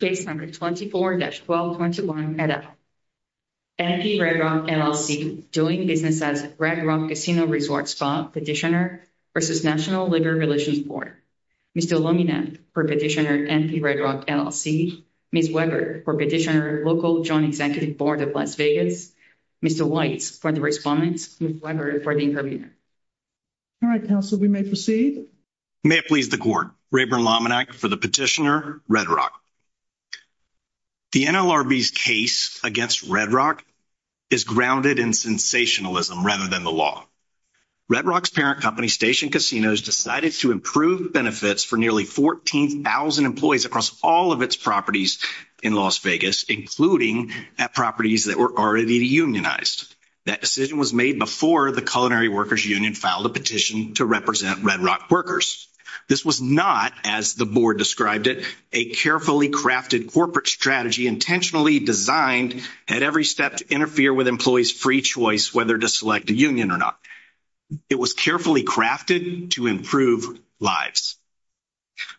Case number 24-1221, NL. NP Red Rock LLC doing business as Red Rock Casino Resort Spa Petitioner v. National Labor Relations Board. Mr. Lominak for Petitioner NP Red Rock LLC, Ms. Weber for Petitioner Local Joint Executive Board of Las Vegas, Mr. Weitz for the respondents, Ms. Weber for the intervener. All right, counsel, we may proceed. May it please the court, Rayburn Lominak for the petitioner, Red Rock. The NLRB's case against Red Rock is grounded in sensationalism rather than the law. Red Rock's parent company, Station Casinos, decided to improve benefits for nearly 14,000 employees across all of its properties in Las Vegas, including at properties that were already unionized. That decision was made before the Workers' Union filed a petition to represent Red Rock workers. This was not, as the board described it, a carefully crafted corporate strategy intentionally designed at every step to interfere with employees' free choice whether to select a union or not. It was carefully crafted to improve lives.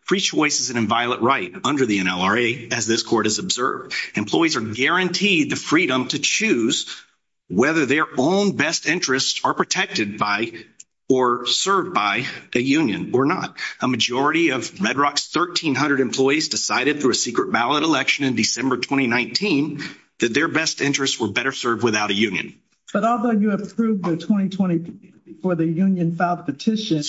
Free choice is an inviolate right under the NLRA, as this court has observed. Employees are guaranteed the freedom to choose whether their own best interests are protected by or served by a union or not. A majority of Red Rock's 1,300 employees decided through a secret ballot election in December 2019 that their best interests were better served without a union. But although you approved the 2020 plan before the union filed the petition,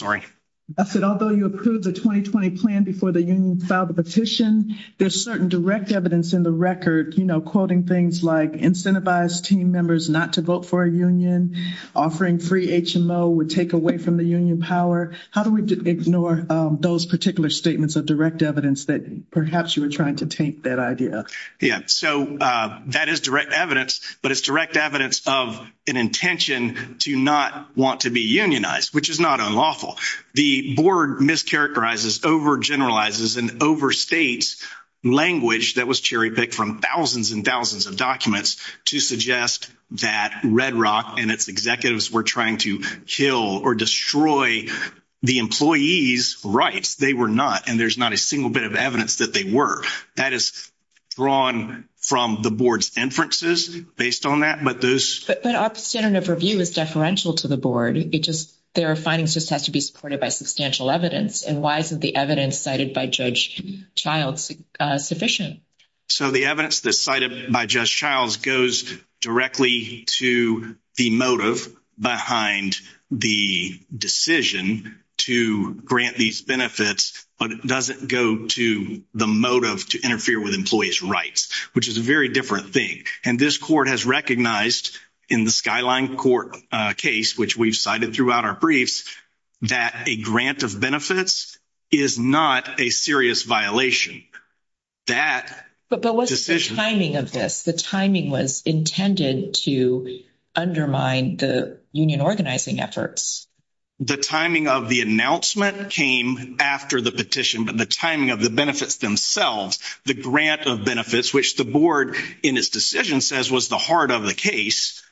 I said although you approved the 2020 plan before the union filed the petition, there's certain direct evidence in the record, you know, quoting things like incentivized team members not to vote for a union, offering free HMO would take away from the union power. How do we ignore those particular statements of direct evidence that perhaps you were trying to take that idea? Yeah, so that is direct evidence, but it's direct evidence of an intention to not want to be unionized, which is not unlawful. The board mischaracterizes, overgeneralizes, and overstates language that was cherry-picked from thousands and thousands of documents to suggest that Red Rock and its executives were trying to kill or destroy the employees' rights. They were not, and there's not a single bit of evidence that they were. That is drawn from the board's inferences based on that, but those. But our standard of review is deferential to the board. It just, their findings just has to be supported by substantial evidence, and why isn't the evidence cited by Judge Childs sufficient? So the evidence that's cited by Judge Childs goes directly to the motive behind the decision to grant these benefits, but it doesn't go to the motive to interfere with employees' rights, which is a very different thing, and this court has recognized in the Skyline Court case, which we've cited throughout our briefs, that a grant of benefits is not a serious violation. But what's the timing of this? The timing was intended to undermine the union organizing efforts. The timing of the announcement came after the petition, but the timing of the benefits themselves, the grant of benefits, which the board in its decision says was the heart of the case,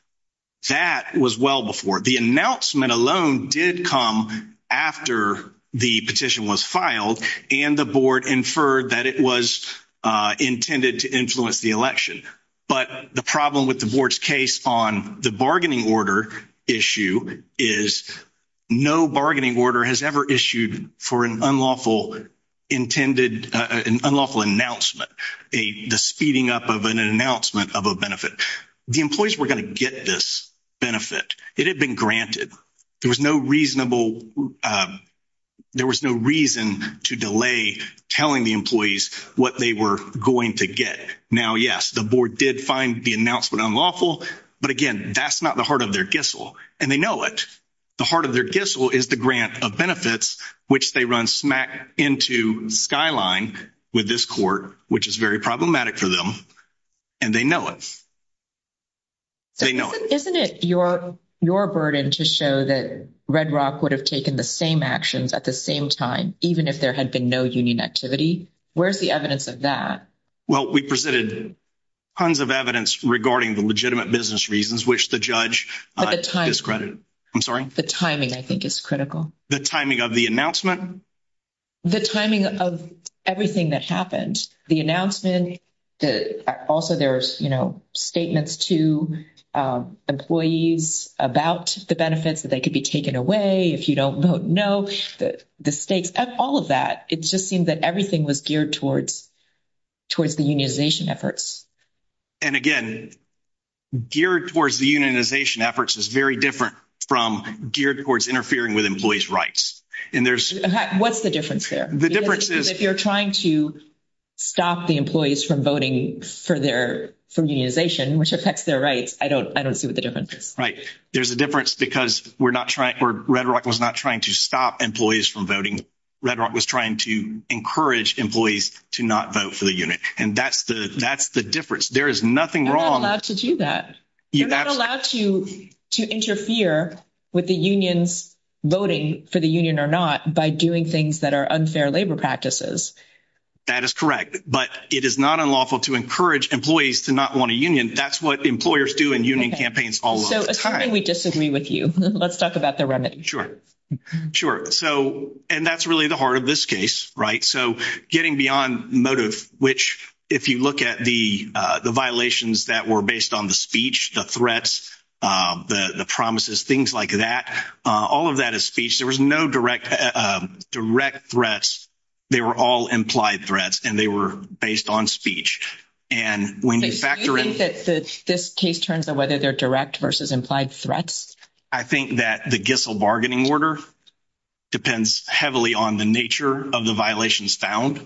that was well before. The announcement alone did come after the petition was filed, and the board inferred that it was intended to influence the election. But the problem with the board's case on the bargaining order issue is no bargaining order has ever issued for an unlawful announcement, the speeding up of an announcement of a benefit. The employees were going to get this benefit. It had been granted. There was no reason to delay telling the employees what they were going to get. Now, yes, the board did find the announcement unlawful, but again, that's not the heart of their gistle, and they know it. The heart of their gistle is the grant of benefits, which they run smack into Skyline with this court, which is very problematic for them, and they know it. They know it. Isn't it your burden to show that Red Rock would have taken the same actions at the same time, even if there had been no union activity? Where's the evidence of that? Well, we presented tons of evidence regarding the legitimate business reasons, which the judge discredited. I'm sorry? The timing, I think, is critical. The timing of the announcement? The timing of everything that happened, the announcement. Also, there's statements to employees about the benefits, that they could be taken away if you don't know the stakes, all of that. It just seemed that everything was geared towards the unionization efforts. And again, geared towards the unionization efforts is very different from geared towards interfering with employees' rights. What's the difference there? The difference is, if you're trying to stop the employees from voting for unionization, which affects their rights, I don't see what the difference is. Right. There's a difference because Red Rock was not trying to stop employees from voting. Red Rock was trying to encourage employees to not vote for the unit, and that's the difference. There is nothing wrong— You're not allowed to do that. You're not allowed to interfere with the union's voting for the union or not by doing things that are unfair labor practices. That is correct. But it is not unlawful to encourage employees to not want a union. That's what employers do in union campaigns all of the time. So, assuming we disagree with you, let's talk about the remedy. Sure. Sure. And that's really the heart of this case, right? So, getting beyond motive, which, if you look at the violations that were based on the speech, the threats, the promises, things like that, all of that is speech. There was no direct threats. They were all implied threats, and they were based on speech. And when you factor in— So, you think that this case turns on whether they're direct versus implied threats? I think that the Gissel bargaining order depends heavily on the nature of the violations found.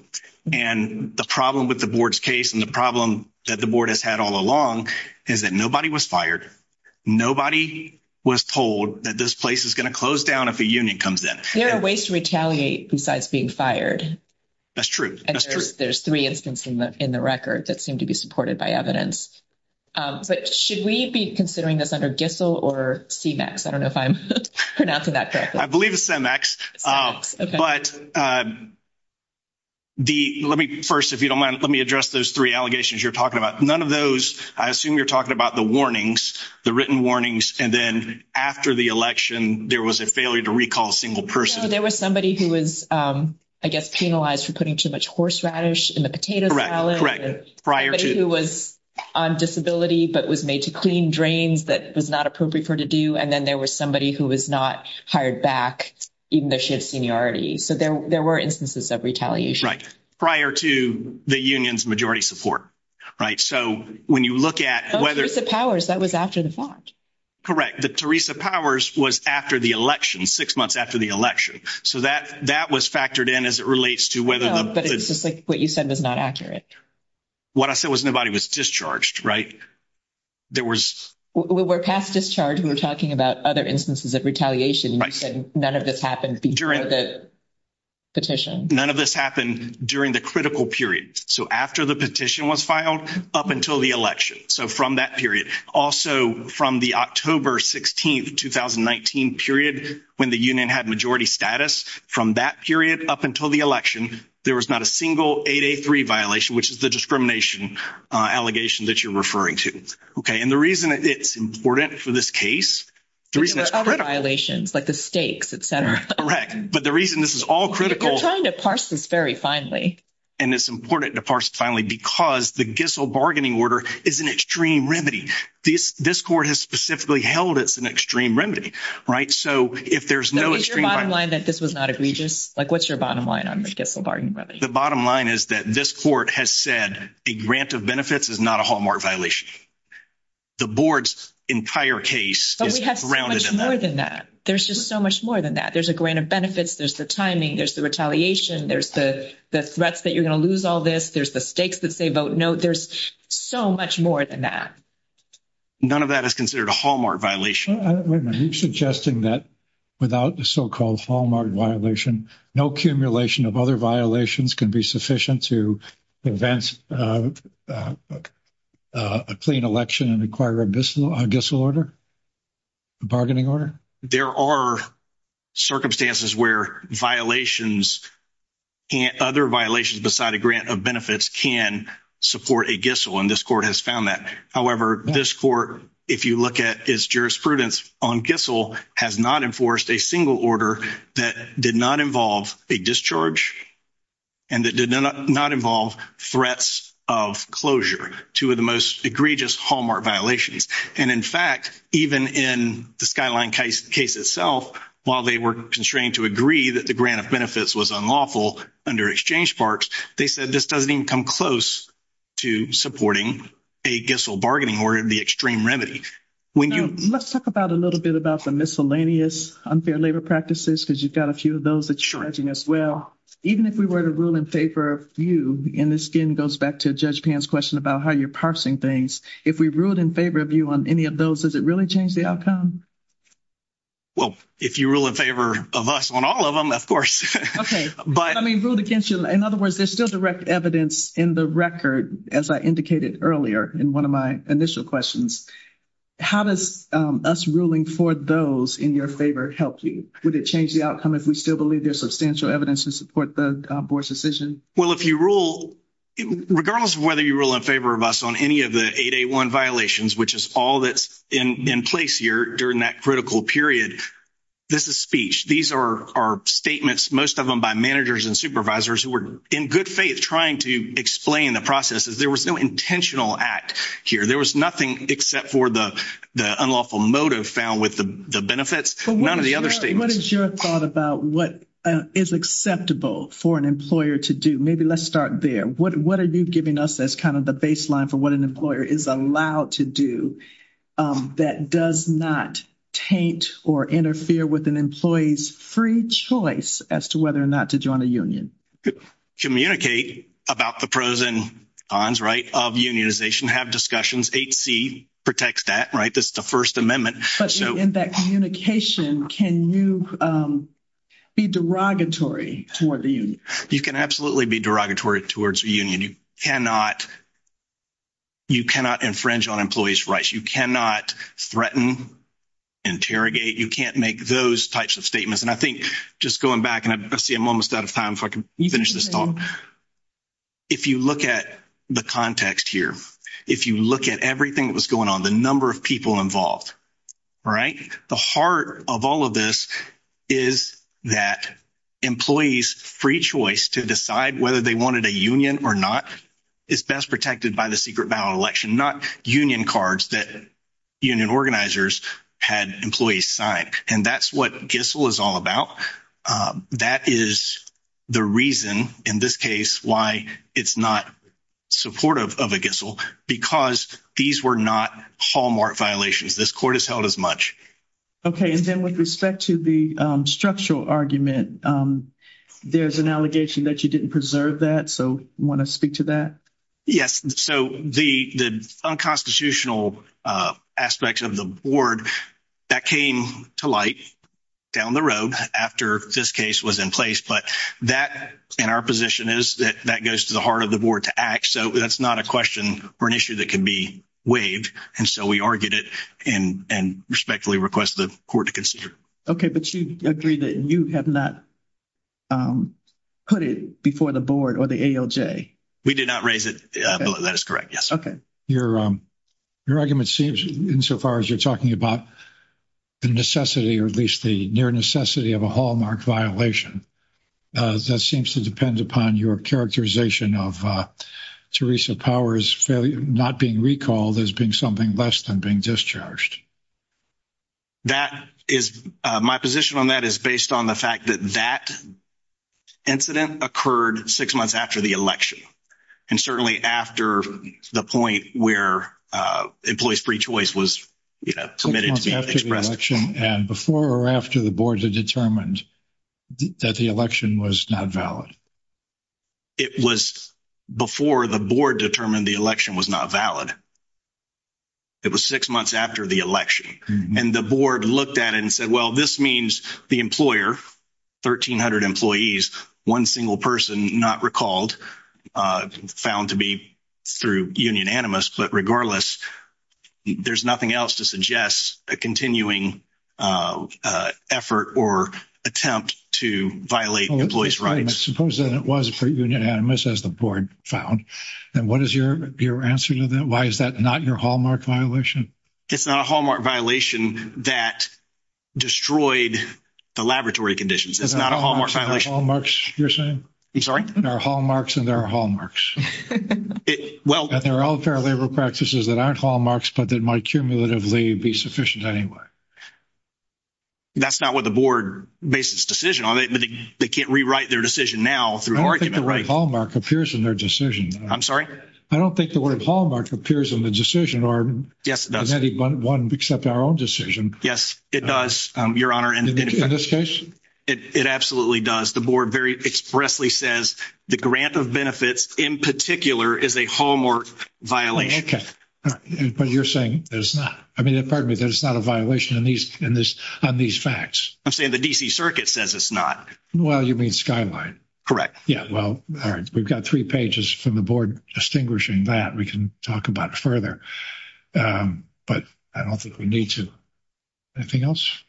And the problem with the board's case and the problem that the board has had all along is that nobody was fired. Nobody was told that this place is going to close down if a union comes in. There are ways to retaliate besides being fired. That's true. That's true. And there's three instances in the record that seem to be supported by evidence. But should we be considering this under Gissel or CEMEX? I don't know if I'm pronouncing that correctly. I believe it's CEMEX. CEMEX, okay. But let me first, if you don't mind, let me address those three allegations you're talking about. None of those—I assume you're talking about the warnings, the written warnings, and then after the election, there was a failure to recall a single person. No, there was somebody who was, I guess, penalized for putting too much horseradish in the potato salad. Correct, correct. Prior to— Somebody who was on disability but was made to clean drains that was not appropriate for her and then there was somebody who was not hired back even though she had seniority. So there were instances of retaliation. Right. Prior to the union's majority support, right? So when you look at whether— Oh, Teresa Powers, that was after the vote. Correct. Teresa Powers was after the election, six months after the election. So that was factored in as it relates to whether the— No, but it's just like what you said was not accurate. What I said was nobody was discharged, right? There was— We're past discharge. We were talking about other instances of retaliation, and you said none of this happened before the petition. None of this happened during the critical period. So after the petition was filed up until the election, so from that period. Also, from the October 16, 2019 period, when the union had majority status, from that period up until the election, there was not a single 8A3 violation, which is the discrimination allegation that you're referring to, okay? The reason it's important for this case, the reason it's critical— There are other violations, like the stakes, et cetera. Correct. But the reason this is all critical— You're trying to parse this very finely. And it's important to parse it finely because the Gissell bargaining order is an extreme remedy. This court has specifically held it's an extreme remedy, right? So if there's no extreme— Is your bottom line that this was not egregious? What's your bottom line on the Gissell bargaining remedy? The bottom line is that this court has said a grant of benefits is not a Hallmark violation. The board's entire case is grounded in that. But we have so much more than that. There's just so much more than that. There's a grant of benefits. There's the timing. There's the retaliation. There's the threats that you're going to lose all this. There's the stakes that say vote no. There's so much more than that. None of that is considered a Hallmark violation. I'm suggesting that without the so-called Hallmark violation, no accumulation of other violations can be sufficient to advance a clean election and acquire a Gissell order, a bargaining order? There are circumstances where violations and other violations beside a grant of benefits can support a Gissell, and this court has found that. However, this court, if you look at its jurisprudence on Gissell, has not enforced a single order that did not involve a discharge and that did not involve threats of closure, two of the most egregious Hallmark violations. And in fact, even in the Skyline case itself, while they were constrained to agree that the grant of benefits was unlawful under exchange sparks, they said this doesn't even come close to supporting a Gissell bargaining order, the extreme remedy. Let's talk a little bit about the miscellaneous unfair labor practices, because you've got a few of those that you're judging as well. Even if we were to rule in favor of you, and this again goes back to Judge Pan's question about how you're parsing things, if we ruled in favor of you on any of those, does it really change the outcome? Well, if you rule in favor of us on all of them, of course. I mean, in other words, there's still direct evidence in the record, as I indicated earlier in one of my initial questions. How does us ruling for those in your favor help you? Would it change the outcome if we still believe there's substantial evidence to support the board's decision? Well, if you rule, regardless of whether you rule in favor of us on any of the 881 violations, which is all that's in place here during that critical period, this is speech. These are statements, most of them by managers and supervisors who were in good faith trying to explain the processes. There was no intentional act here. There was nothing except for the unlawful motive found with the benefits, none of the other statements. What is your thought about what is acceptable for an employer to do? Maybe let's start there. What are you giving us as kind of the baseline for what an employer is allowed to do that does not taint or interfere with an employee's free choice as to whether or not to join a union? Communicate about the pros and cons, right, of unionization, have discussions. 8C protects that, right? That's the First Amendment. But in that communication, can you be derogatory toward the union? You can absolutely be derogatory towards a union. You cannot infringe on employees' rights. You cannot threaten, interrogate. You can't make those types of statements. And I think just going back, and I see I'm almost out of time if I can finish this talk. If you look at the context here, if you look at everything that was going on, the number of people involved, right? The heart of all of this is that employees' free choice to decide whether they wanted a union or not is best protected by the union organizers had employees sign. And that's what GISSL is all about. That is the reason, in this case, why it's not supportive of a GISSL, because these were not hallmark violations. This court has held as much. Okay. And then with respect to the structural argument, there's an allegation that you didn't preserve that. So you want to speak to that? Yes. So the unconstitutional aspects of the board, that came to light down the road after this case was in place. But that, in our position, is that that goes to the heart of the board to act. So that's not a question or an issue that can be waived. And so we argued it and respectfully request the court to consider. Okay. But you agree that you have not put it before the board or the ALJ? We did not raise it. That is correct. Yes. Okay. Your argument seems, insofar as you're talking about the necessity, or at least the near necessity of a hallmark violation, that seems to depend upon your characterization of Theresa Power's failure not being recalled as being something less than being discharged. That is, my position on that is based on the fact that that incident occurred six months after the election. And certainly after the point where employee's free choice was, you know, submitted to be expressed. And before or after the board had determined that the election was not valid? It was before the board determined the election was not valid. It was six months after the election. And the board looked at it and said, well, this means the employer, 1,300 employees, one single person not recalled, found to be through Union Animus. But regardless, there's nothing else to suggest a continuing effort or attempt to violate employee's rights. Suppose that it was for Union Animus, as the board found. And what is your answer to that? Why is that not your hallmark violation? It's not a hallmark violation that destroyed the laboratory conditions. It's not a hallmark violation. Hallmarks, you're saying? I'm sorry? There are hallmarks and there are hallmarks. Well, there are all fair labor practices that aren't hallmarks, but that might cumulatively be sufficient anyway. That's not what the board based its decision on. They can't rewrite their decision now through an argument. I don't think the word hallmark appears in their decision. I'm sorry? I don't think the word hallmark appears in the decision. Yes, it does. Does anyone accept our own decision? Yes, it does, Your Honor. In this case? It absolutely does. The board very expressly says the grant of benefits, in particular, is a hallmark violation. Okay. But you're saying that it's not? I mean, pardon me, that it's not a violation on these facts? I'm saying the D.C. Circuit says it's not. Well, you mean Skyline. Correct. Yeah, well, all right. We've got three pages from the board distinguishing that. We can talk about it further, but I don't think we need to. Anything else?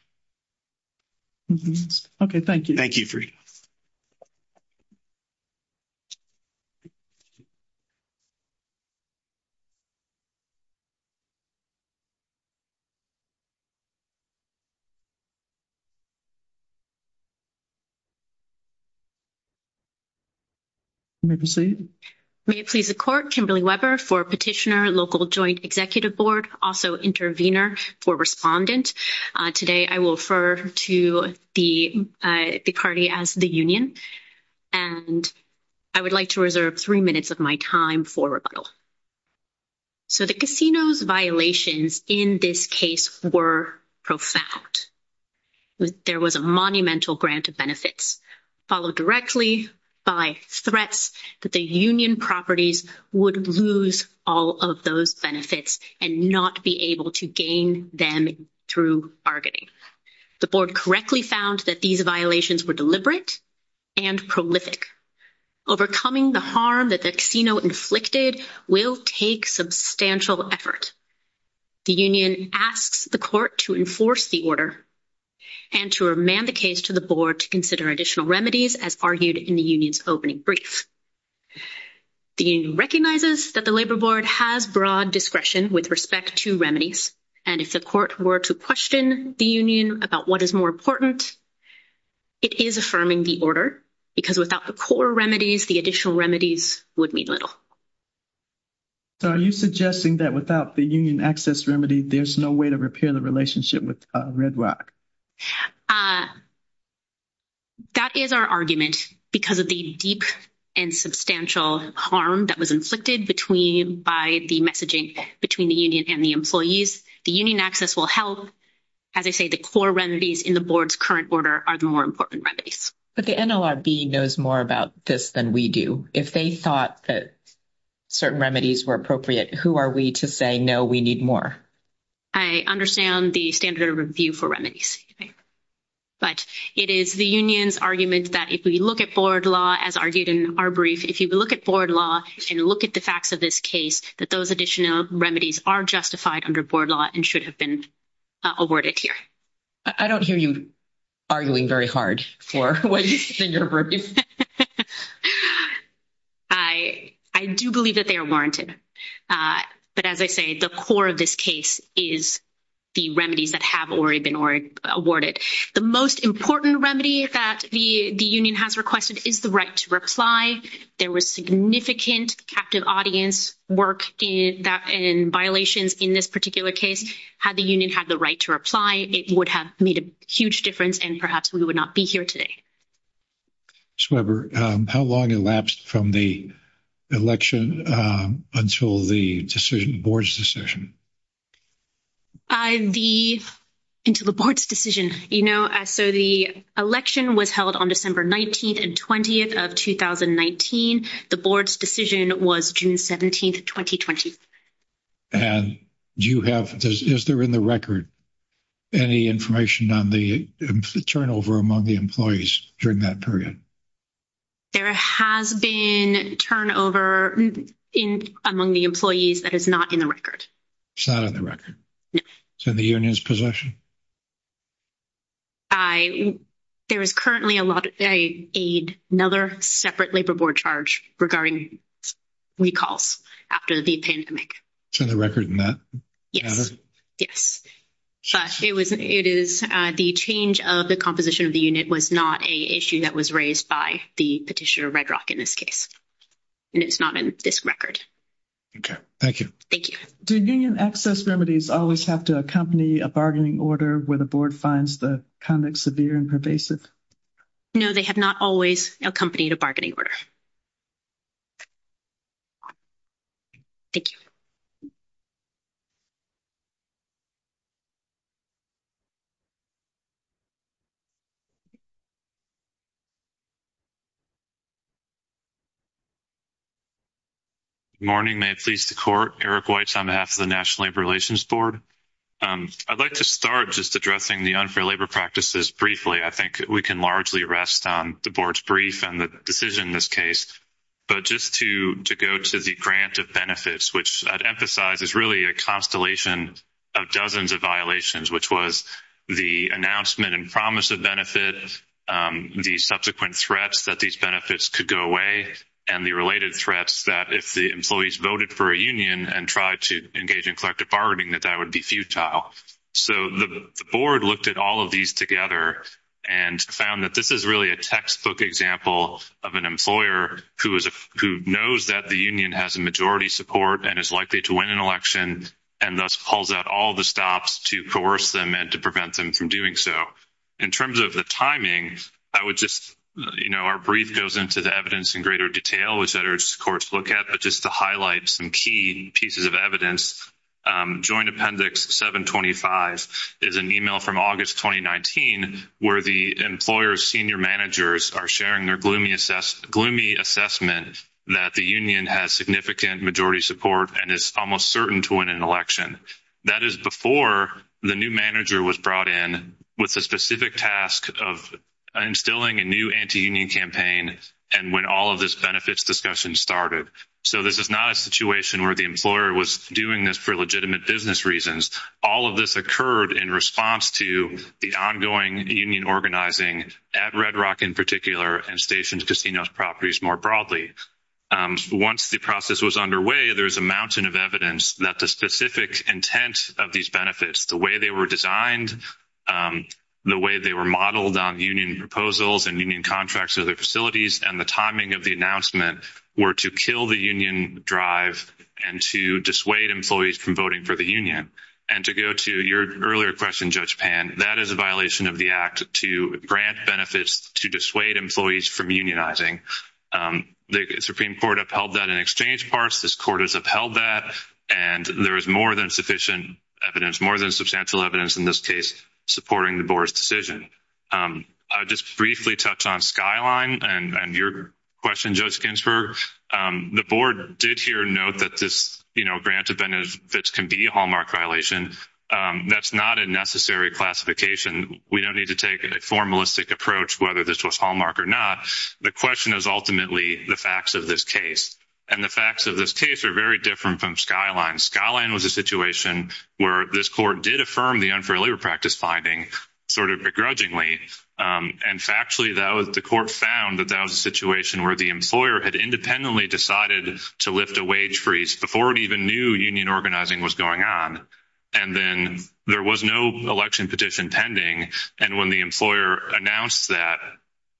Okay, thank you. Thank you, Freda. You may proceed. May it please the court, Kimberly Weber for petitioner, local joint executive board, also intervener for respondent. Today, I will refer to the party as the union, and I would like to reserve three minutes of my time for rebuttal. So the casino's violations in this case were profound. There was a monumental grant of benefits, followed directly by threats that the union properties would lose all of those benefits and not be able to gain them through bargaining. The board correctly found that these violations were deliberate and prolific. Overcoming the harm that the casino inflicted will take substantial effort. The union asks the court to enforce the order and to remand the case to the board to consider additional remedies, as argued in the union's opening brief. The union recognizes that the labor board has broad discretion with respect to remedies, and if the court were to question the union about what is more important, it is affirming the order because without the core remedies, the additional remedies would mean little. So are you suggesting that without the union access remedy, there's no way to repair the relationship with Red Rock? That is our argument because of the deep and substantial harm that was inflicted between, by the messaging between the union and the employees. The union access will help, as I say, the core remedies in the board's current order are the more important remedies. But the NLRB knows more about this than we do. If they thought that certain remedies were appropriate, who are we to say, no, we need more? I understand the standard of review for remedies. But it is the union's argument that if we look at board law, as argued in our brief, if you look at board law and look at the facts of this case, that those additional remedies are justified under board law and should have been awarded here. I don't hear you arguing very hard for what you said in your brief. I do believe that they are warranted. But as I say, the core of this case is the remedies that have already been awarded. The most important remedy that the union has requested is the right to reply. There was significant captive audience work in violations in this particular case. Had the union had the right to reply, it would have made a huge difference and perhaps we would not be here today. Sweber, how long elapsed from the election until the decision, board's decision? The, until the board's decision, you know, so the election was held on December 19th and 20th of 2019. The board's decision was June 17th, 2020. And do you have, is there in the record any information on the turnover among the employees? During that period? There has been turnover in, among the employees that is not in the record. It's not on the record? No. So the union's possession? I, there is currently a lot, a another separate labor board charge regarding recalls after the pandemic. It's on the record in that? Yes, yes. But it was, it is the change of the composition of the unit was not a issue that was raised by the petitioner Red Rock in this case. And it's not in this record. Okay, thank you. Thank you. Do union access remedies always have to accompany a bargaining order where the board finds the conduct severe and pervasive? No, they have not always accompanied a bargaining order. Thank you. Good morning. May it please the court. Eric Weitz on behalf of the National Labor Relations Board. I'd like to start just addressing the unfair labor practices briefly. I think we can largely rest on the board's brief and the decision in this case. But just to go to the grant of benefits, which I'd emphasize is really a constellation of dozens of violations, which was the announcement and promise of benefit, the subsequent threats that these benefits could go away and the related threats that if the employees voted for a union and tried to engage in collective bargaining, that that would be futile. So, the board looked at all of these together and found that this is really a textbook example of an employer who knows that the union has a majority support and is likely to win an election and thus calls out all the stops to coerce them and to prevent them from doing so. In terms of the timing, I would just, you know, our brief goes into the evidence in greater detail, which others courts look at. But just to highlight some key pieces of evidence, Joint Appendix 725 is an email from August 2019 where the employer's senior managers are sharing their gloomy assessment that the has significant majority support and is almost certain to win an election. That is before the new manager was brought in with the specific task of instilling a new anti-union campaign and when all of this benefits discussion started. So, this is not a situation where the employer was doing this for legitimate business reasons. All of this occurred in response to the ongoing union organizing at Red Rock in particular and Stations Casino Properties more broadly. Once the process was underway, there is a mountain of evidence that the specific intent of these benefits, the way they were designed, the way they were modeled on union proposals and union contracts and other facilities, and the timing of the announcement were to kill the union drive and to dissuade employees from voting for the union. And to go to your earlier question, Judge Pan, that is a violation of the Act to grant benefits to dissuade employees from unionizing. The Supreme Court upheld that in exchange parts. This Court has upheld that and there is more than sufficient evidence, more than substantial evidence in this case supporting the Board's decision. I will just briefly touch on Skyline and your question, Judge Ginsburg. The Board did here note that this grant of benefits can be a hallmark violation. That is not a necessary classification. We do not need to take a formalistic approach whether this was hallmark or not. The question is ultimately the facts of this case. And the facts of this case are very different from Skyline. Skyline was a situation where this Court did affirm the unfair labor practice finding, sort of begrudgingly. And factually, the Court found that that was a situation where the employer had independently decided to lift a wage freeze before it even knew union organizing was going on. And then there was no election petition pending. And when the employer announced that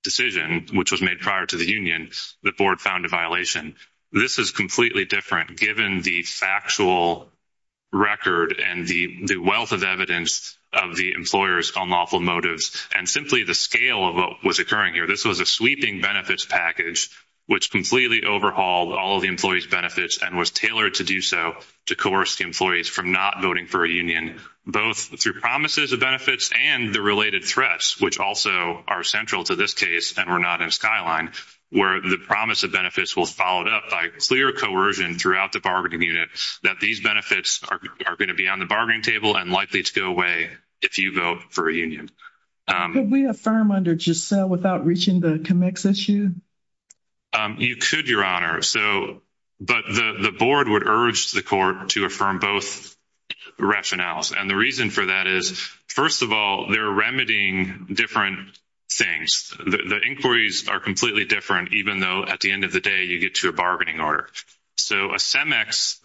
decision, which was made prior to the union, the Board found a violation. This is completely different given the factual record and the wealth of evidence of the employers on lawful motives and simply the scale of what was occurring here. This was a sweeping benefits package which completely overhauled all of the employees' benefits and was tailored to do so to coerce the employees from not voting for a union, both through promises of benefits and the related threats, which also are central to this case and were not in Skyline, where the promise of benefits was followed up by clear coercion throughout the bargaining unit that these benefits are going to be on the bargaining table and likely to go away if you vote for a union. Could we affirm under Giselle without reaching the CMEX issue? You could, Your Honor. But the Board would urge the Court to affirm both rationales. And the reason for that is, first of all, they're remedying different things. The inquiries are completely different, even though at the end of the day, you get to a bargaining order. So a CMEX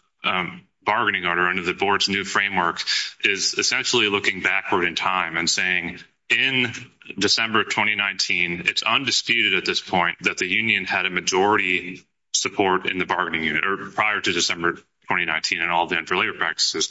bargaining order under the Board's new framework is essentially looking backward in time and saying, in December 2019, it's undisputed at this point that the union had majority support in the bargaining unit, or prior to December 2019 and all of the inferior practices.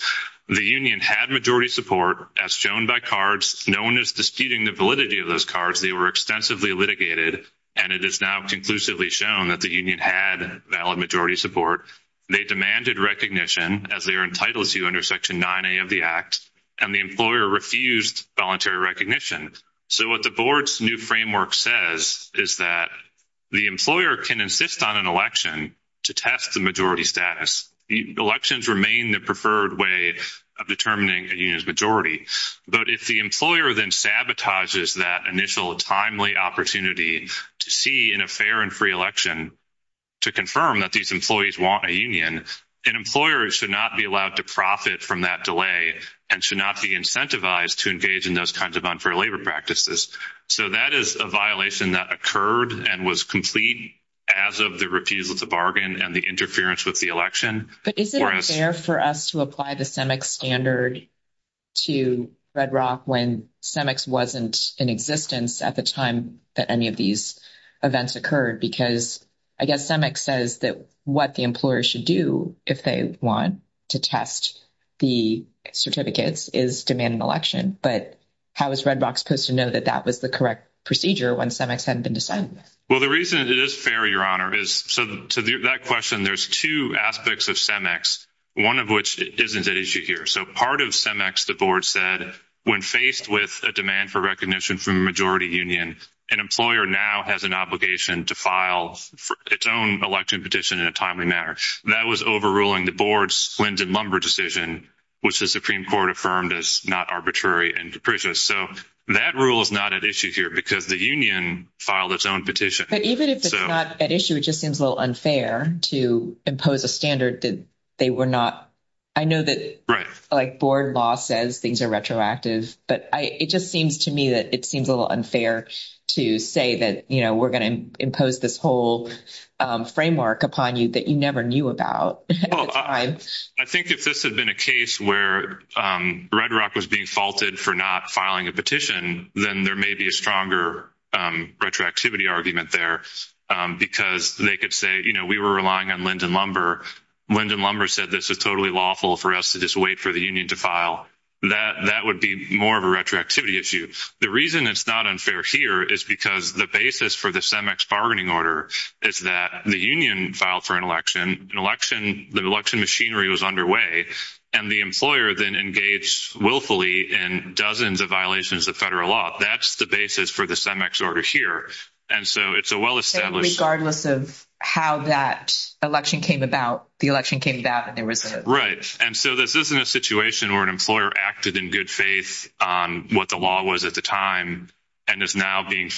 The union had majority support, as shown by cards. No one is disputing the validity of those cards. They were extensively litigated, and it is now conclusively shown that the union had valid majority support. They demanded recognition, as they are entitled to under Section 9A of the Act, and the employer refused voluntary recognition. So what the Board's new framework says is that the employer can insist on an election to test the majority status. Elections remain the preferred way of determining a union's majority. But if the employer then sabotages that initial timely opportunity to see in a fair and free election to confirm that these employees want a union, an employer should not be allowed to profit from that delay and should not be incentivized to engage in those kinds of unfair labor practices. So that is a violation that occurred and was complete as of the refusal to bargain and the interference with the election. But is it fair for us to apply the CEMEX standard to Red Rock when CEMEX wasn't in existence at the time that any of these events occurred? Because I guess CEMEX says that what the employer should do if they want to test the certificates is demand an election. But how is Red Rock supposed to know that that was the correct procedure when CEMEX hadn't been decided? Well, the reason it is fair, Your Honor, is to that question, there's two aspects of CEMEX, one of which isn't at issue here. So part of CEMEX, the Board said, when faced with a demand for recognition from a majority union, an employer now has an obligation to file its own election petition in a timely manner. That was overruling the Board's flint and lumber decision, which the Supreme Court affirmed as not arbitrary and capricious. So that rule is not at issue here because the union filed its own petition. But even if it's not at issue, it just seems a little unfair to impose a standard that they were not. I know that, like, Board law says things are retroactive, but it just seems to me that it seems a little unfair to say that, you know, we're going to impose this whole framework upon you that you never knew about at the time. I think if this had been a case where Red Rock was being faulted for not filing a petition, then there may be a stronger retroactivity argument there because they could say, you know, we were relying on lint and lumber. Lint and lumber said this is totally lawful for us to just wait for the union to file. That would be more of a retroactivity issue. The reason it's not unfair here is because the basis for the CEMEX bargaining order is that the union filed for an election, the election machinery was underway, and the employer then engaged willfully in dozens of violations of federal law. That's the basis for the CEMEX order here. And so it's a well-established- Regardless of how that election came about. The election came about and there was a- Right. And so this isn't a situation where an employer acted in good faith on what the law was at the time and is now being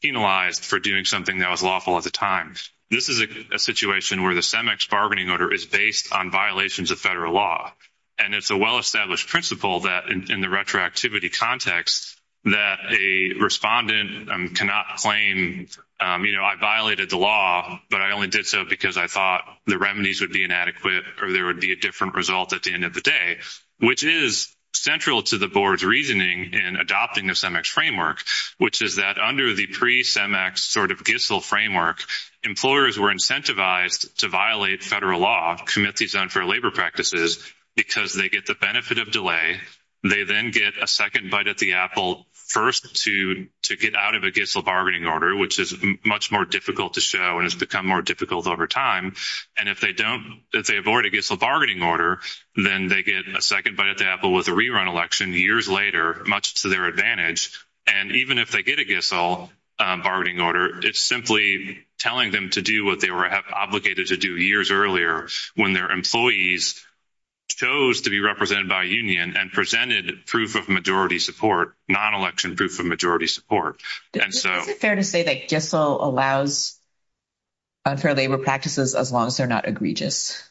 penalized for doing something that was lawful at the time. This is a situation where the CEMEX bargaining order is based on violations of federal law. And it's a well-established principle that in the retroactivity context that a respondent cannot claim, you know, I violated the law, but I only did so because I thought the remedies would be inadequate or there would be a different result at the end of the day, which is central to the board's reasoning in adopting the CEMEX framework, which is that under the pre-CEMEX sort of GISL framework, employers were incentivized to violate federal law, commit these unfair labor practices, because they get the benefit of delay. They then get a second bite at the apple first to get out of a GISL bargaining order, which is much more difficult to show and has become more difficult over time. And if they don't, if they avoid a GISL bargaining order, then they get a second bite at the re-run election years later, much to their advantage. And even if they get a GISL bargaining order, it's simply telling them to do what they were obligated to do years earlier when their employees chose to be represented by a union and presented proof of majority support, non-election proof of majority support. Is it fair to say that GISL allows unfair labor practices as long as they're not egregious?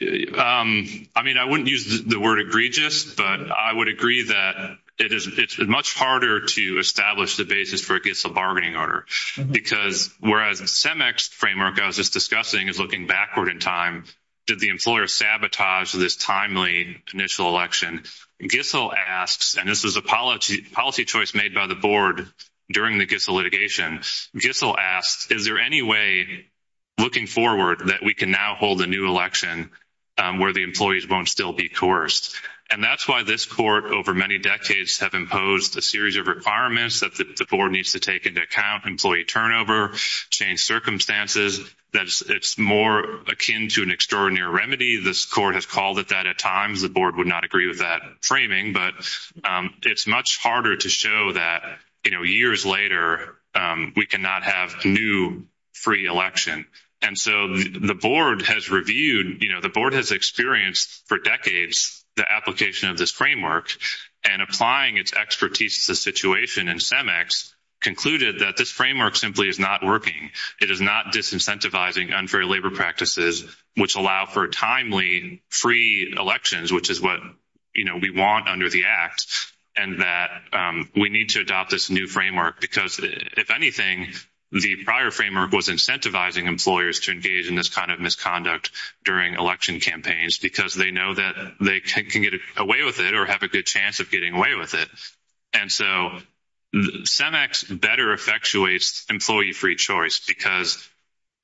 I mean, I wouldn't use the word egregious, but I would agree that it's much harder to establish the basis for a GISL bargaining order, because whereas CEMEX framework I was just discussing is looking backward in time, did the employer sabotage this timely initial election? GISL asks, and this is a policy choice made by the board during the GISL litigation, GISL holds a new election where the employees won't still be coerced. And that's why this court over many decades have imposed a series of requirements that the board needs to take into account, employee turnover, change circumstances, that it's more akin to an extraordinary remedy. This court has called it that at times. The board would not agree with that framing, but it's much harder to show that, you know, years later, we cannot have a new free election. And so the board has reviewed, you know, the board has experienced for decades the application of this framework and applying its expertise to the situation and CEMEX concluded that this framework simply is not working. It is not disincentivizing unfair labor practices, which allow for timely free elections, which is what, you know, we want under the act, and that we need to adopt this new framework because, if anything, the prior framework was incentivizing employers to engage in this kind of misconduct during election campaigns because they know that they can get away with it or have a good chance of getting away with it. And so CEMEX better effectuates employee free choice because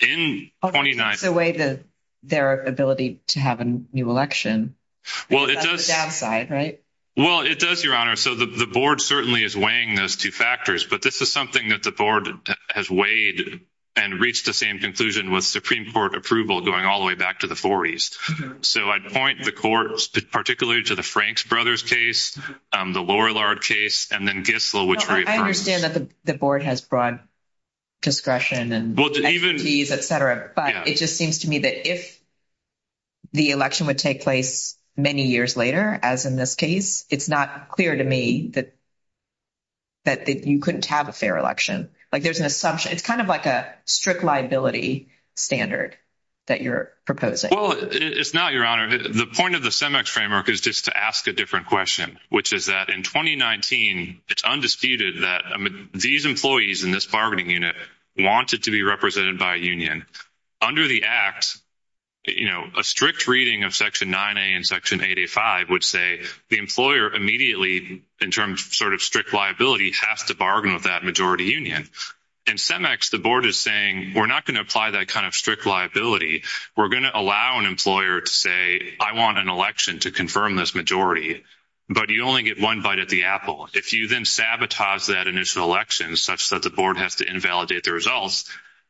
in 2019— It takes away their ability to have a new election. Well, it does. That's the downside, right? Well, it does, Your Honor. So the board certainly is weighing those two factors, but this is something that the board has weighed and reached the same conclusion with Supreme Court approval going all the way back to the 40s. So I'd point the court particularly to the Franks Brothers case, the Lorillard case, and then Gissel, which— I understand that the board has broad discretion and expertise, et cetera, but it just seems to me that if the election would take place many years later, as in this case, it's not clear to me that you couldn't have a fair election. Like, there's an assumption. It's kind of like a strict liability standard that you're proposing. Well, it's not, Your Honor. The point of the CEMEX framework is just to ask a different question, which is that in 2019, it's undisputed that these employees in this bargaining unit wanted to be represented by a union. Under the Act, you know, a strict reading of Section 9A and Section 8A5 would say the employer immediately, in terms of sort of strict liability, has to bargain with that majority union. In CEMEX, the board is saying, we're not going to apply that kind of strict liability. We're going to allow an employer to say, I want an election to confirm this majority, but you only get one bite at the apple. If you then sabotage that initial election such that the board has to invalidate the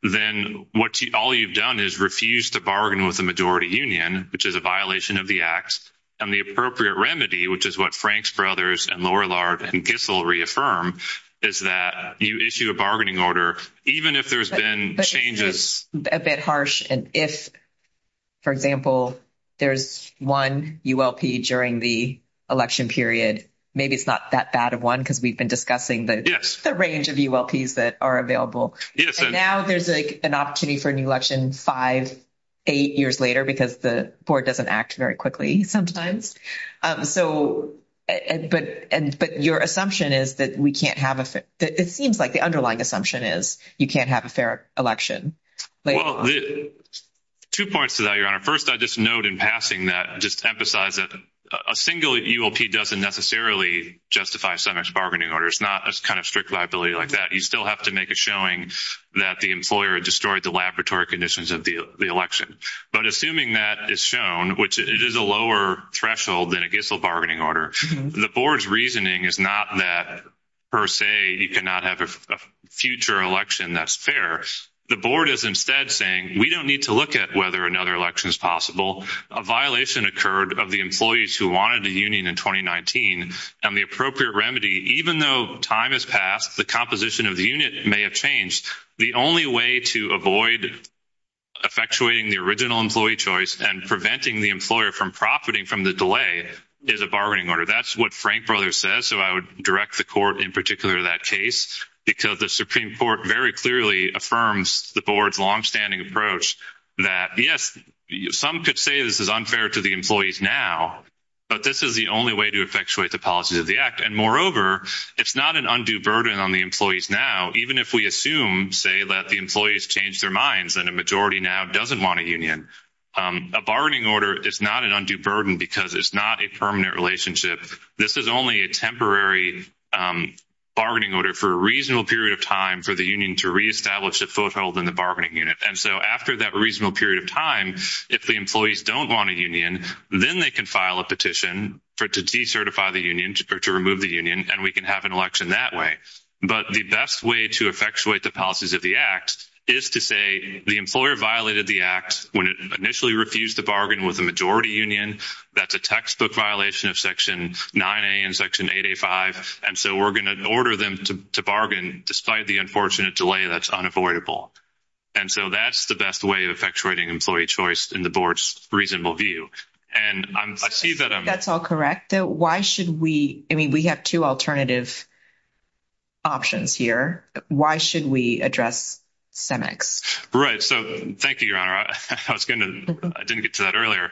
then all you've done is refuse to bargain with the majority union, which is a violation of the Act. And the appropriate remedy, which is what Franks Brothers and Lorillard and Kissel reaffirm, is that you issue a bargaining order even if there's been changes. But it's just a bit harsh. And if, for example, there's one ULP during the election period, maybe it's not that bad of one because we've been discussing the range of ULPs that are available. And now there's an opportunity for an election five, eight years later because the board doesn't act very quickly sometimes. But your assumption is that we can't have a fair — it seems like the underlying assumption is you can't have a fair election. Well, two points to that, Your Honor. First, I'd just note in passing that, just to emphasize that a single ULP doesn't necessarily justify CEMEX bargaining orders, not a kind of strict liability like that. You still have to make a showing that the employer destroyed the laboratory conditions of the election. But assuming that is shown, which it is a lower threshold than a Kissel bargaining order, the board's reasoning is not that per se you cannot have a future election that's fair. The board is instead saying we don't need to look at whether another election is possible. A violation occurred of the employees who wanted a union in 2019. And the appropriate remedy, even though time has passed, the composition of the unit may have changed. The only way to avoid effectuating the original employee choice and preventing the employer from profiting from the delay is a bargaining order. That's what Frank Brothers says, so I would direct the court in particular to that case because the Supreme Court very clearly affirms the board's longstanding approach that, yes, some could say this is unfair to the employees now, but this is the only way to effectuate the policies of the act. And moreover, it's not an undue burden on the employees now, even if we assume, say, that the employees changed their minds and a majority now doesn't want a union. A bargaining order is not an undue burden because it's not a permanent relationship. This is only a temporary bargaining order for a reasonable period of time for the union to reestablish a foothold in the bargaining unit. And so after that reasonable period of time, if the employees don't want a union, then they can file a petition to decertify the union or to remove the union, and we can have an election that way. But the best way to effectuate the policies of the act is to say the employer violated the act when it initially refused to bargain with a majority union. That's a textbook violation of Section 9A and Section 8A5, and so we're going to order them to bargain despite the unfortunate delay that's unavoidable. And so that's the best way of effectuating employee choice in the board's reasonable view. And I see that I'm— That's all correct. Why should we—I mean, we have two alternative options here. Why should we address CEMEX? Right. So thank you, Your Honor. I was going to—I didn't get to that earlier.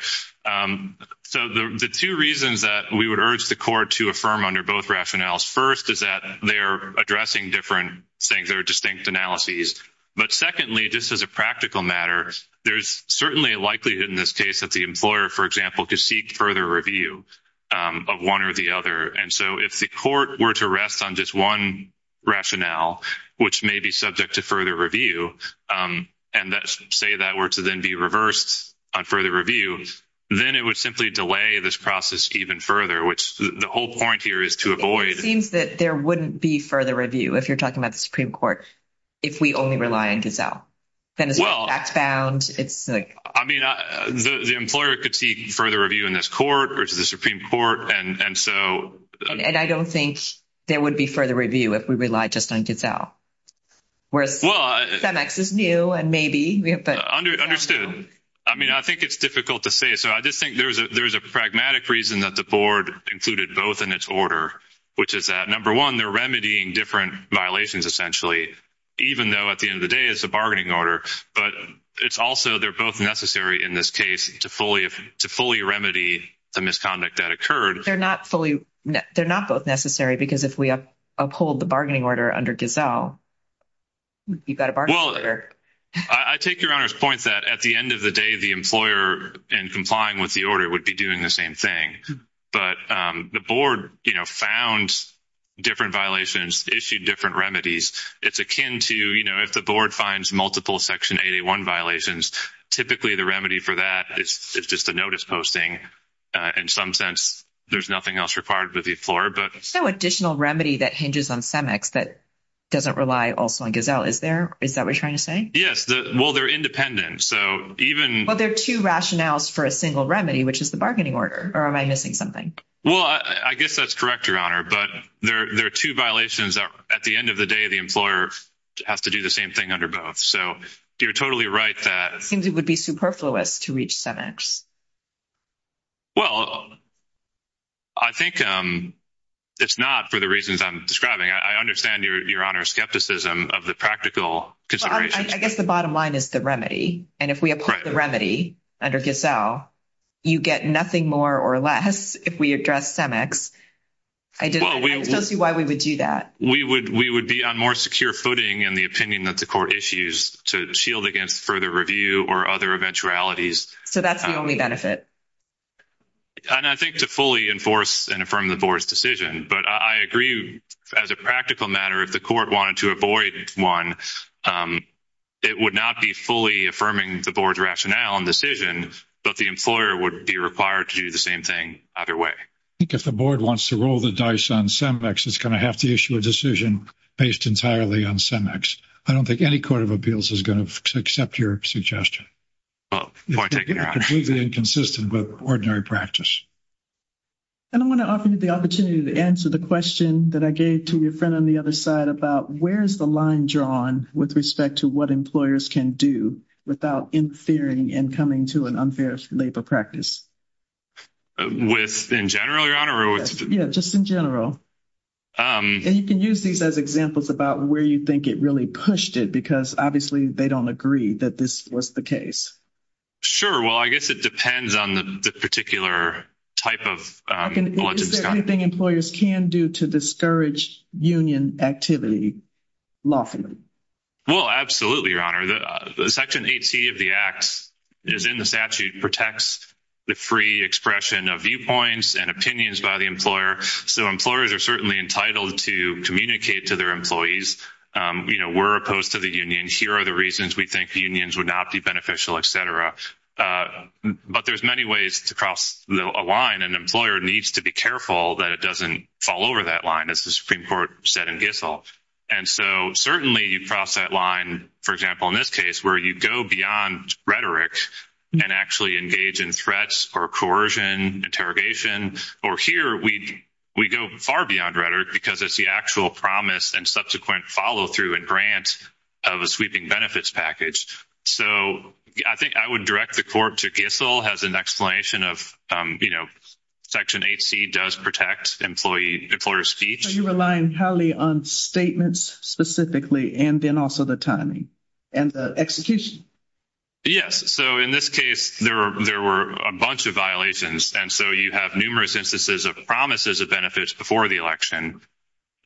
So the two reasons that we would urge the court to affirm under both rationales, first, is that they are addressing different things. There are distinct analyses. But secondly, just as a practical matter, there's certainly a likelihood in this case that the employer, for example, could seek further review of one or the other. And so if the court were to rest on just one rationale, which may be subject to further review, and say that were to then be reversed on further review, then it would simply delay this process even further, which the whole point here is to avoid— It seems that there wouldn't be further review, if you're talking about the Supreme Court, if we only rely on gazelle. Then it's not fact-bound. I mean, the employer could seek further review in this court, which is the Supreme Court, and so— And I don't think there would be further review if we relied just on gazelle. Whereas CEMEX is new, and maybe— Understood. I mean, I think it's difficult to say. So I just think there's a pragmatic reason that the board included both in its order, which is that, number one, they're remedying different violations, essentially, even though at the end of the day, it's a bargaining order. But it's also they're both necessary in this case to fully remedy the misconduct that They're not fully—they're not both necessary, because if we uphold the bargaining order under gazelle, you've got a bargaining order. I take Your Honor's point that at the end of the day, the employer, in complying with the order, would be doing the same thing. But the board found different violations, issued different remedies. It's akin to, you know, if the board finds multiple Section 881 violations, typically the remedy for that is just a notice posting. In some sense, there's nothing else required with the floor, but— So additional remedy that hinges on CEMEX that doesn't rely also on gazelle, is there? Is that what you're trying to say? Yes. Well, they're independent. So even— Well, there are two rationales for a single remedy, which is the bargaining order. Or am I missing something? Well, I guess that's correct, Your Honor. But there are two violations that, at the end of the day, the employer has to do the same thing under both. So you're totally right that— Seems it would be superfluous to reach CEMEX. Well, I think it's not for the reasons I'm describing. I understand Your Honor's skepticism of the practical considerations. I guess the bottom line is the remedy. And if we uphold the remedy under gazelle, you get nothing more or less if we address CEMEX. I don't see why we would do that. We would be on more secure footing in the opinion that the court issues to shield against further review or other eventualities. So that's the only benefit? And I think to fully enforce and affirm the board's decision. But I agree, as a practical matter, if the court wanted to avoid one, it would not be fully affirming the board's rationale and decision, but the employer would be required to do the same thing either way. I think if the board wants to roll the dice on CEMEX, it's going to have to issue a decision based entirely on CEMEX. I don't think any court of appeals is going to accept your suggestion. Well, I take it Your Honor. Completely inconsistent with ordinary practice. And I want to offer you the opportunity to answer the question that I gave to your friend on the other side about where is the line drawn with respect to what employers can do without interfering and coming to an unfair labor practice? With in general, Your Honor? Yeah, just in general. And you can use these as examples about where you think it really pushed it because obviously they don't agree that this was the case. Sure. Well, I guess it depends on the particular type of... Is there anything employers can do to discourage union activity lawfully? Well, absolutely, Your Honor. Section 8C of the Act, as in the statute, protects the free expression of viewpoints and opinions by the employer. So employers are certainly entitled to communicate to their employees. We're opposed to the union. Here are the reasons we think unions would not be beneficial, et cetera. But there's many ways to cross a line. An employer needs to be careful that it doesn't fall over that line, as the Supreme Court said in Gissel. And so certainly you cross that line, for example, in this case, where you go beyond rhetoric and actually engage in threats or coercion, interrogation. Or here, we go far beyond rhetoric because it's the actual promise and subsequent follow-through and grant of a sweeping benefits package. So I think I would direct the court to Gissel as an explanation of, you know, Section 8C does protect employer speech. Are you relying highly on statements specifically and then also the timing and the execution? Yes. So in this case, there were a bunch of violations. And so you have numerous instances of promises of benefits before the election,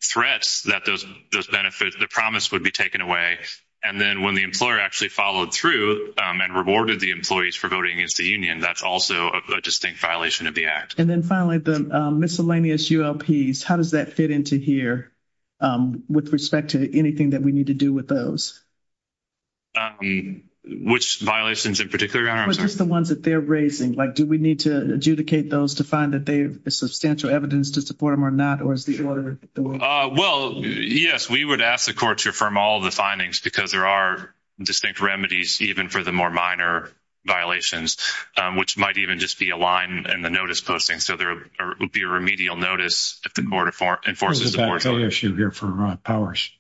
threats that those benefits, the promise would be taken away. And then when the employer actually followed through and rewarded the employees for voting against the union, that's also a distinct violation of the Act. And then finally, the miscellaneous ULPs, how does that fit into here with respect to anything that we need to do with those? Which violations in particular, Your Honor? Or just the ones that they're raising? Like, do we need to adjudicate those to find that there is substantial evidence to support them or not? Or is the order the way? Well, yes, we would ask the court to affirm all the findings because there are distinct remedies, even for the more minor violations, which might even just be a line in the notice posting. So there would be a remedial notice if the court enforces the portion. There's a back pay issue here for Powers.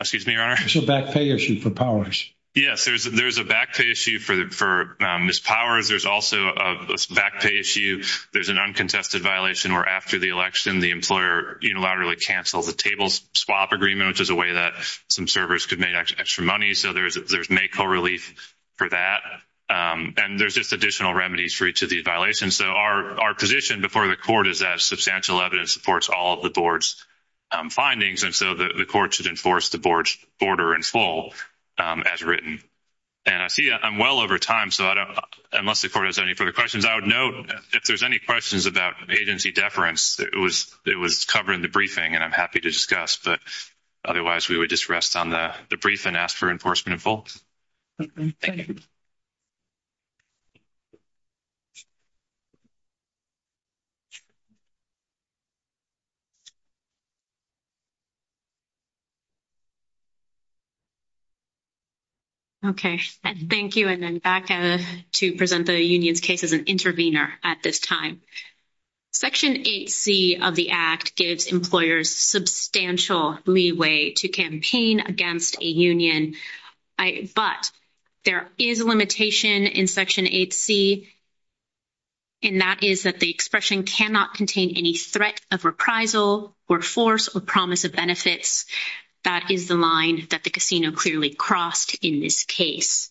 Excuse me, Your Honor? There's a back pay issue for Powers. Yes, there's a back pay issue for Ms. Powers. There's also a back pay issue. There's an uncontested violation where after the election, the employer unilaterally cancels the table swap agreement, which is a way that some servers could make extra money. So there's may co-relief for that. And there's just additional remedies for each of these violations. So our position before the court is that substantial evidence supports all of the board's findings. And so the court should enforce the board's order in full as written. And I see I'm well over time, so unless the court has any further questions, I would note if there's any questions about agency deference, it was covered in the briefing, and I'm happy to discuss. But otherwise, we would just rest on the brief and ask for enforcement in full. Thank you. Thank you. Thank you. And then back to present the union's case as an intervener at this time. Section 8C of the Act gives employers substantial leeway to campaign against a union. But there is a limitation in Section 8C, and that is that the expression cannot contain any threat of reprisal or force or promise of benefits. That is the line that the casino clearly crossed in this case.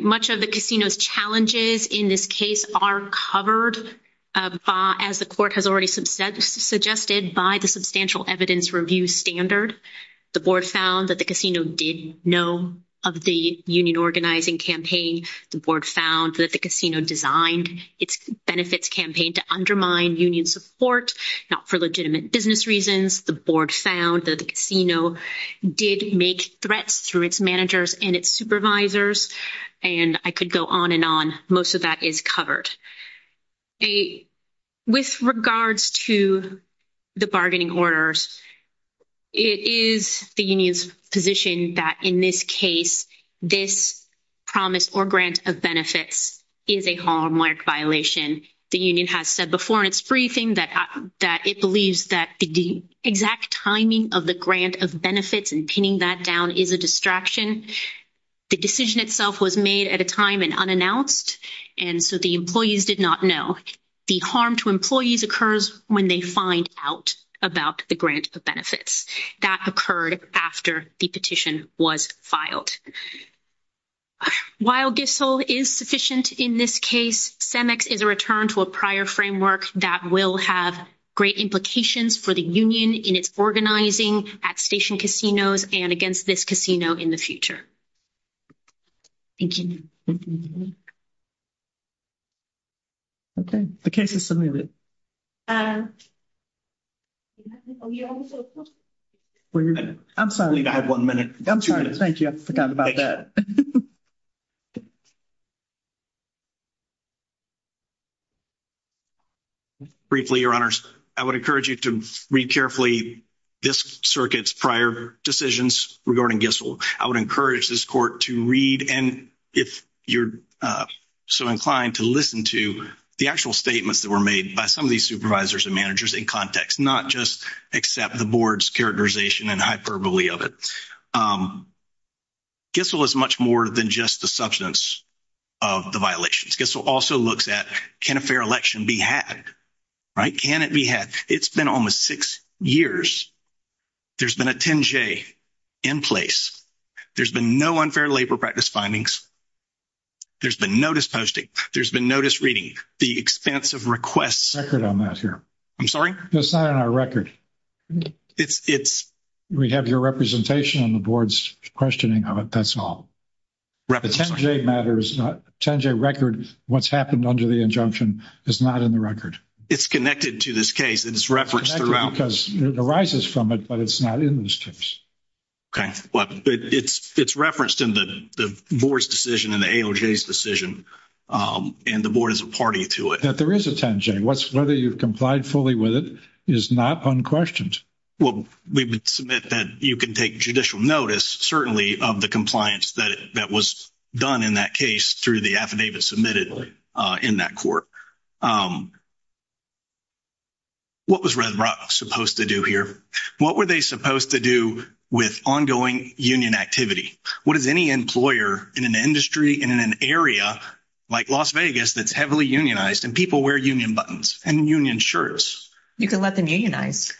Much of the casino's challenges in this case are covered, as the court has already suggested, by the substantial evidence review standard. The board found that the casino did know of the union organizing campaign. The board found that the casino designed its benefits campaign to undermine union support, not for legitimate business reasons. The board found that the casino did make threats through its managers and its supervisors. And I could go on and on. Most of that is covered. With regards to the bargaining orders, it is the union's position that in this case, this promise or grant of benefits is a hallmark violation. The union has said before in its briefing that it believes that the exact timing of the grant of benefits and pinning that down is a distraction. The decision itself was made at a time and unannounced. And so the employees did not know. The harm to employees occurs when they find out about the grant of benefits. That occurred after the petition was filed. While GISSL is sufficient in this case, CEMEX is a return to a prior framework that will have great implications for the union in its organizing at station casinos and against this casino in the future. Thank you. Okay. The case is submitted. I'm sorry. We have one minute. I'm sorry. Thank you. I forgot about that. Briefly, Your Honors, I would encourage you to read carefully this circuit's prior decisions regarding GISSL. I would encourage this court to read and if you're so inclined to listen to the actual statements that were made by some of these supervisors and managers in context, not just accept the board's characterization and hyperbole of it. GISSL is much more than just the substance of the violations. GISSL also looks at can a fair election be had, right? Can it be had? It's been almost six years. There's been a 10-J in place. There's been no unfair labor practice findings. There's been notice posting. There's been notice reading. The expense of requests. Record on that here. I'm sorry? It's not on our record. It's... We have your representation on the board's questioning of it. That's all. The 10-J record, what's happened under the injunction is not in the record. It's connected to this case. It's referenced throughout. Because it arises from it, but it's not in this case. Okay, but it's referenced in the board's decision and the AOJ's decision. And the board is a party to it. That there is a 10-J, whether you've complied fully with it is not unquestioned. Well, we would submit that you can take judicial notice, certainly of the compliance that was done in that case through the affidavit submitted in that court. What was Red Rock supposed to do here? What were they supposed to do with ongoing union activity? What does any employer in an industry and in an area like Las Vegas that's heavily unionized and people wear union buttons and union shirts? You can let them unionize.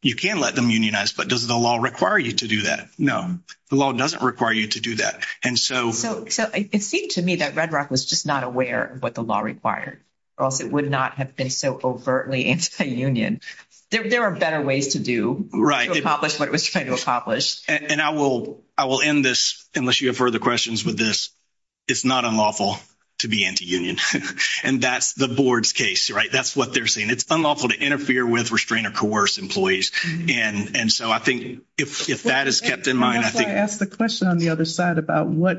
You can let them unionize, but does the law require you to do that? No. The law doesn't require you to do that. And so... It seemed to me that Red Rock was just not aware of what the law required, or else it would not have been so overtly anti-union. There are better ways to do. Right. To accomplish what it was trying to accomplish. And I will end this, unless you have further questions with this, it's not unlawful to be anti-union. And that's the board's case, right? That's what they're saying. It's unlawful to interfere with, restrain or coerce employees. And so I think if that is kept in mind, I think... That's why I asked the question on the other side about what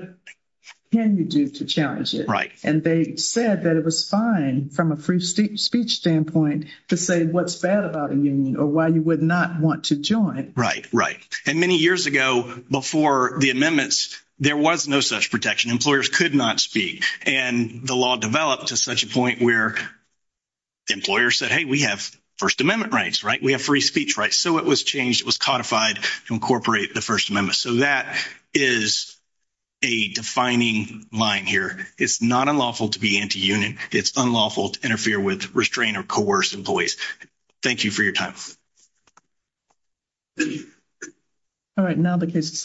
can you do to challenge it? Right. And they said that it was fine, from a free speech standpoint, to say what's bad about a union or why you would not want to join. Right. Right. And many years ago, before the amendments, there was no such protection. Employers could not speak. And the law developed to such a point where employers said, hey, we have First Amendment rights, right? We have free speech rights. So it was changed. It was codified to incorporate the First Amendment. So that is a defining line here. It's not unlawful to be anti-union. It's unlawful to interfere with, restrain or coerce employees. Thank you for your time. All right. Now the case is submitted.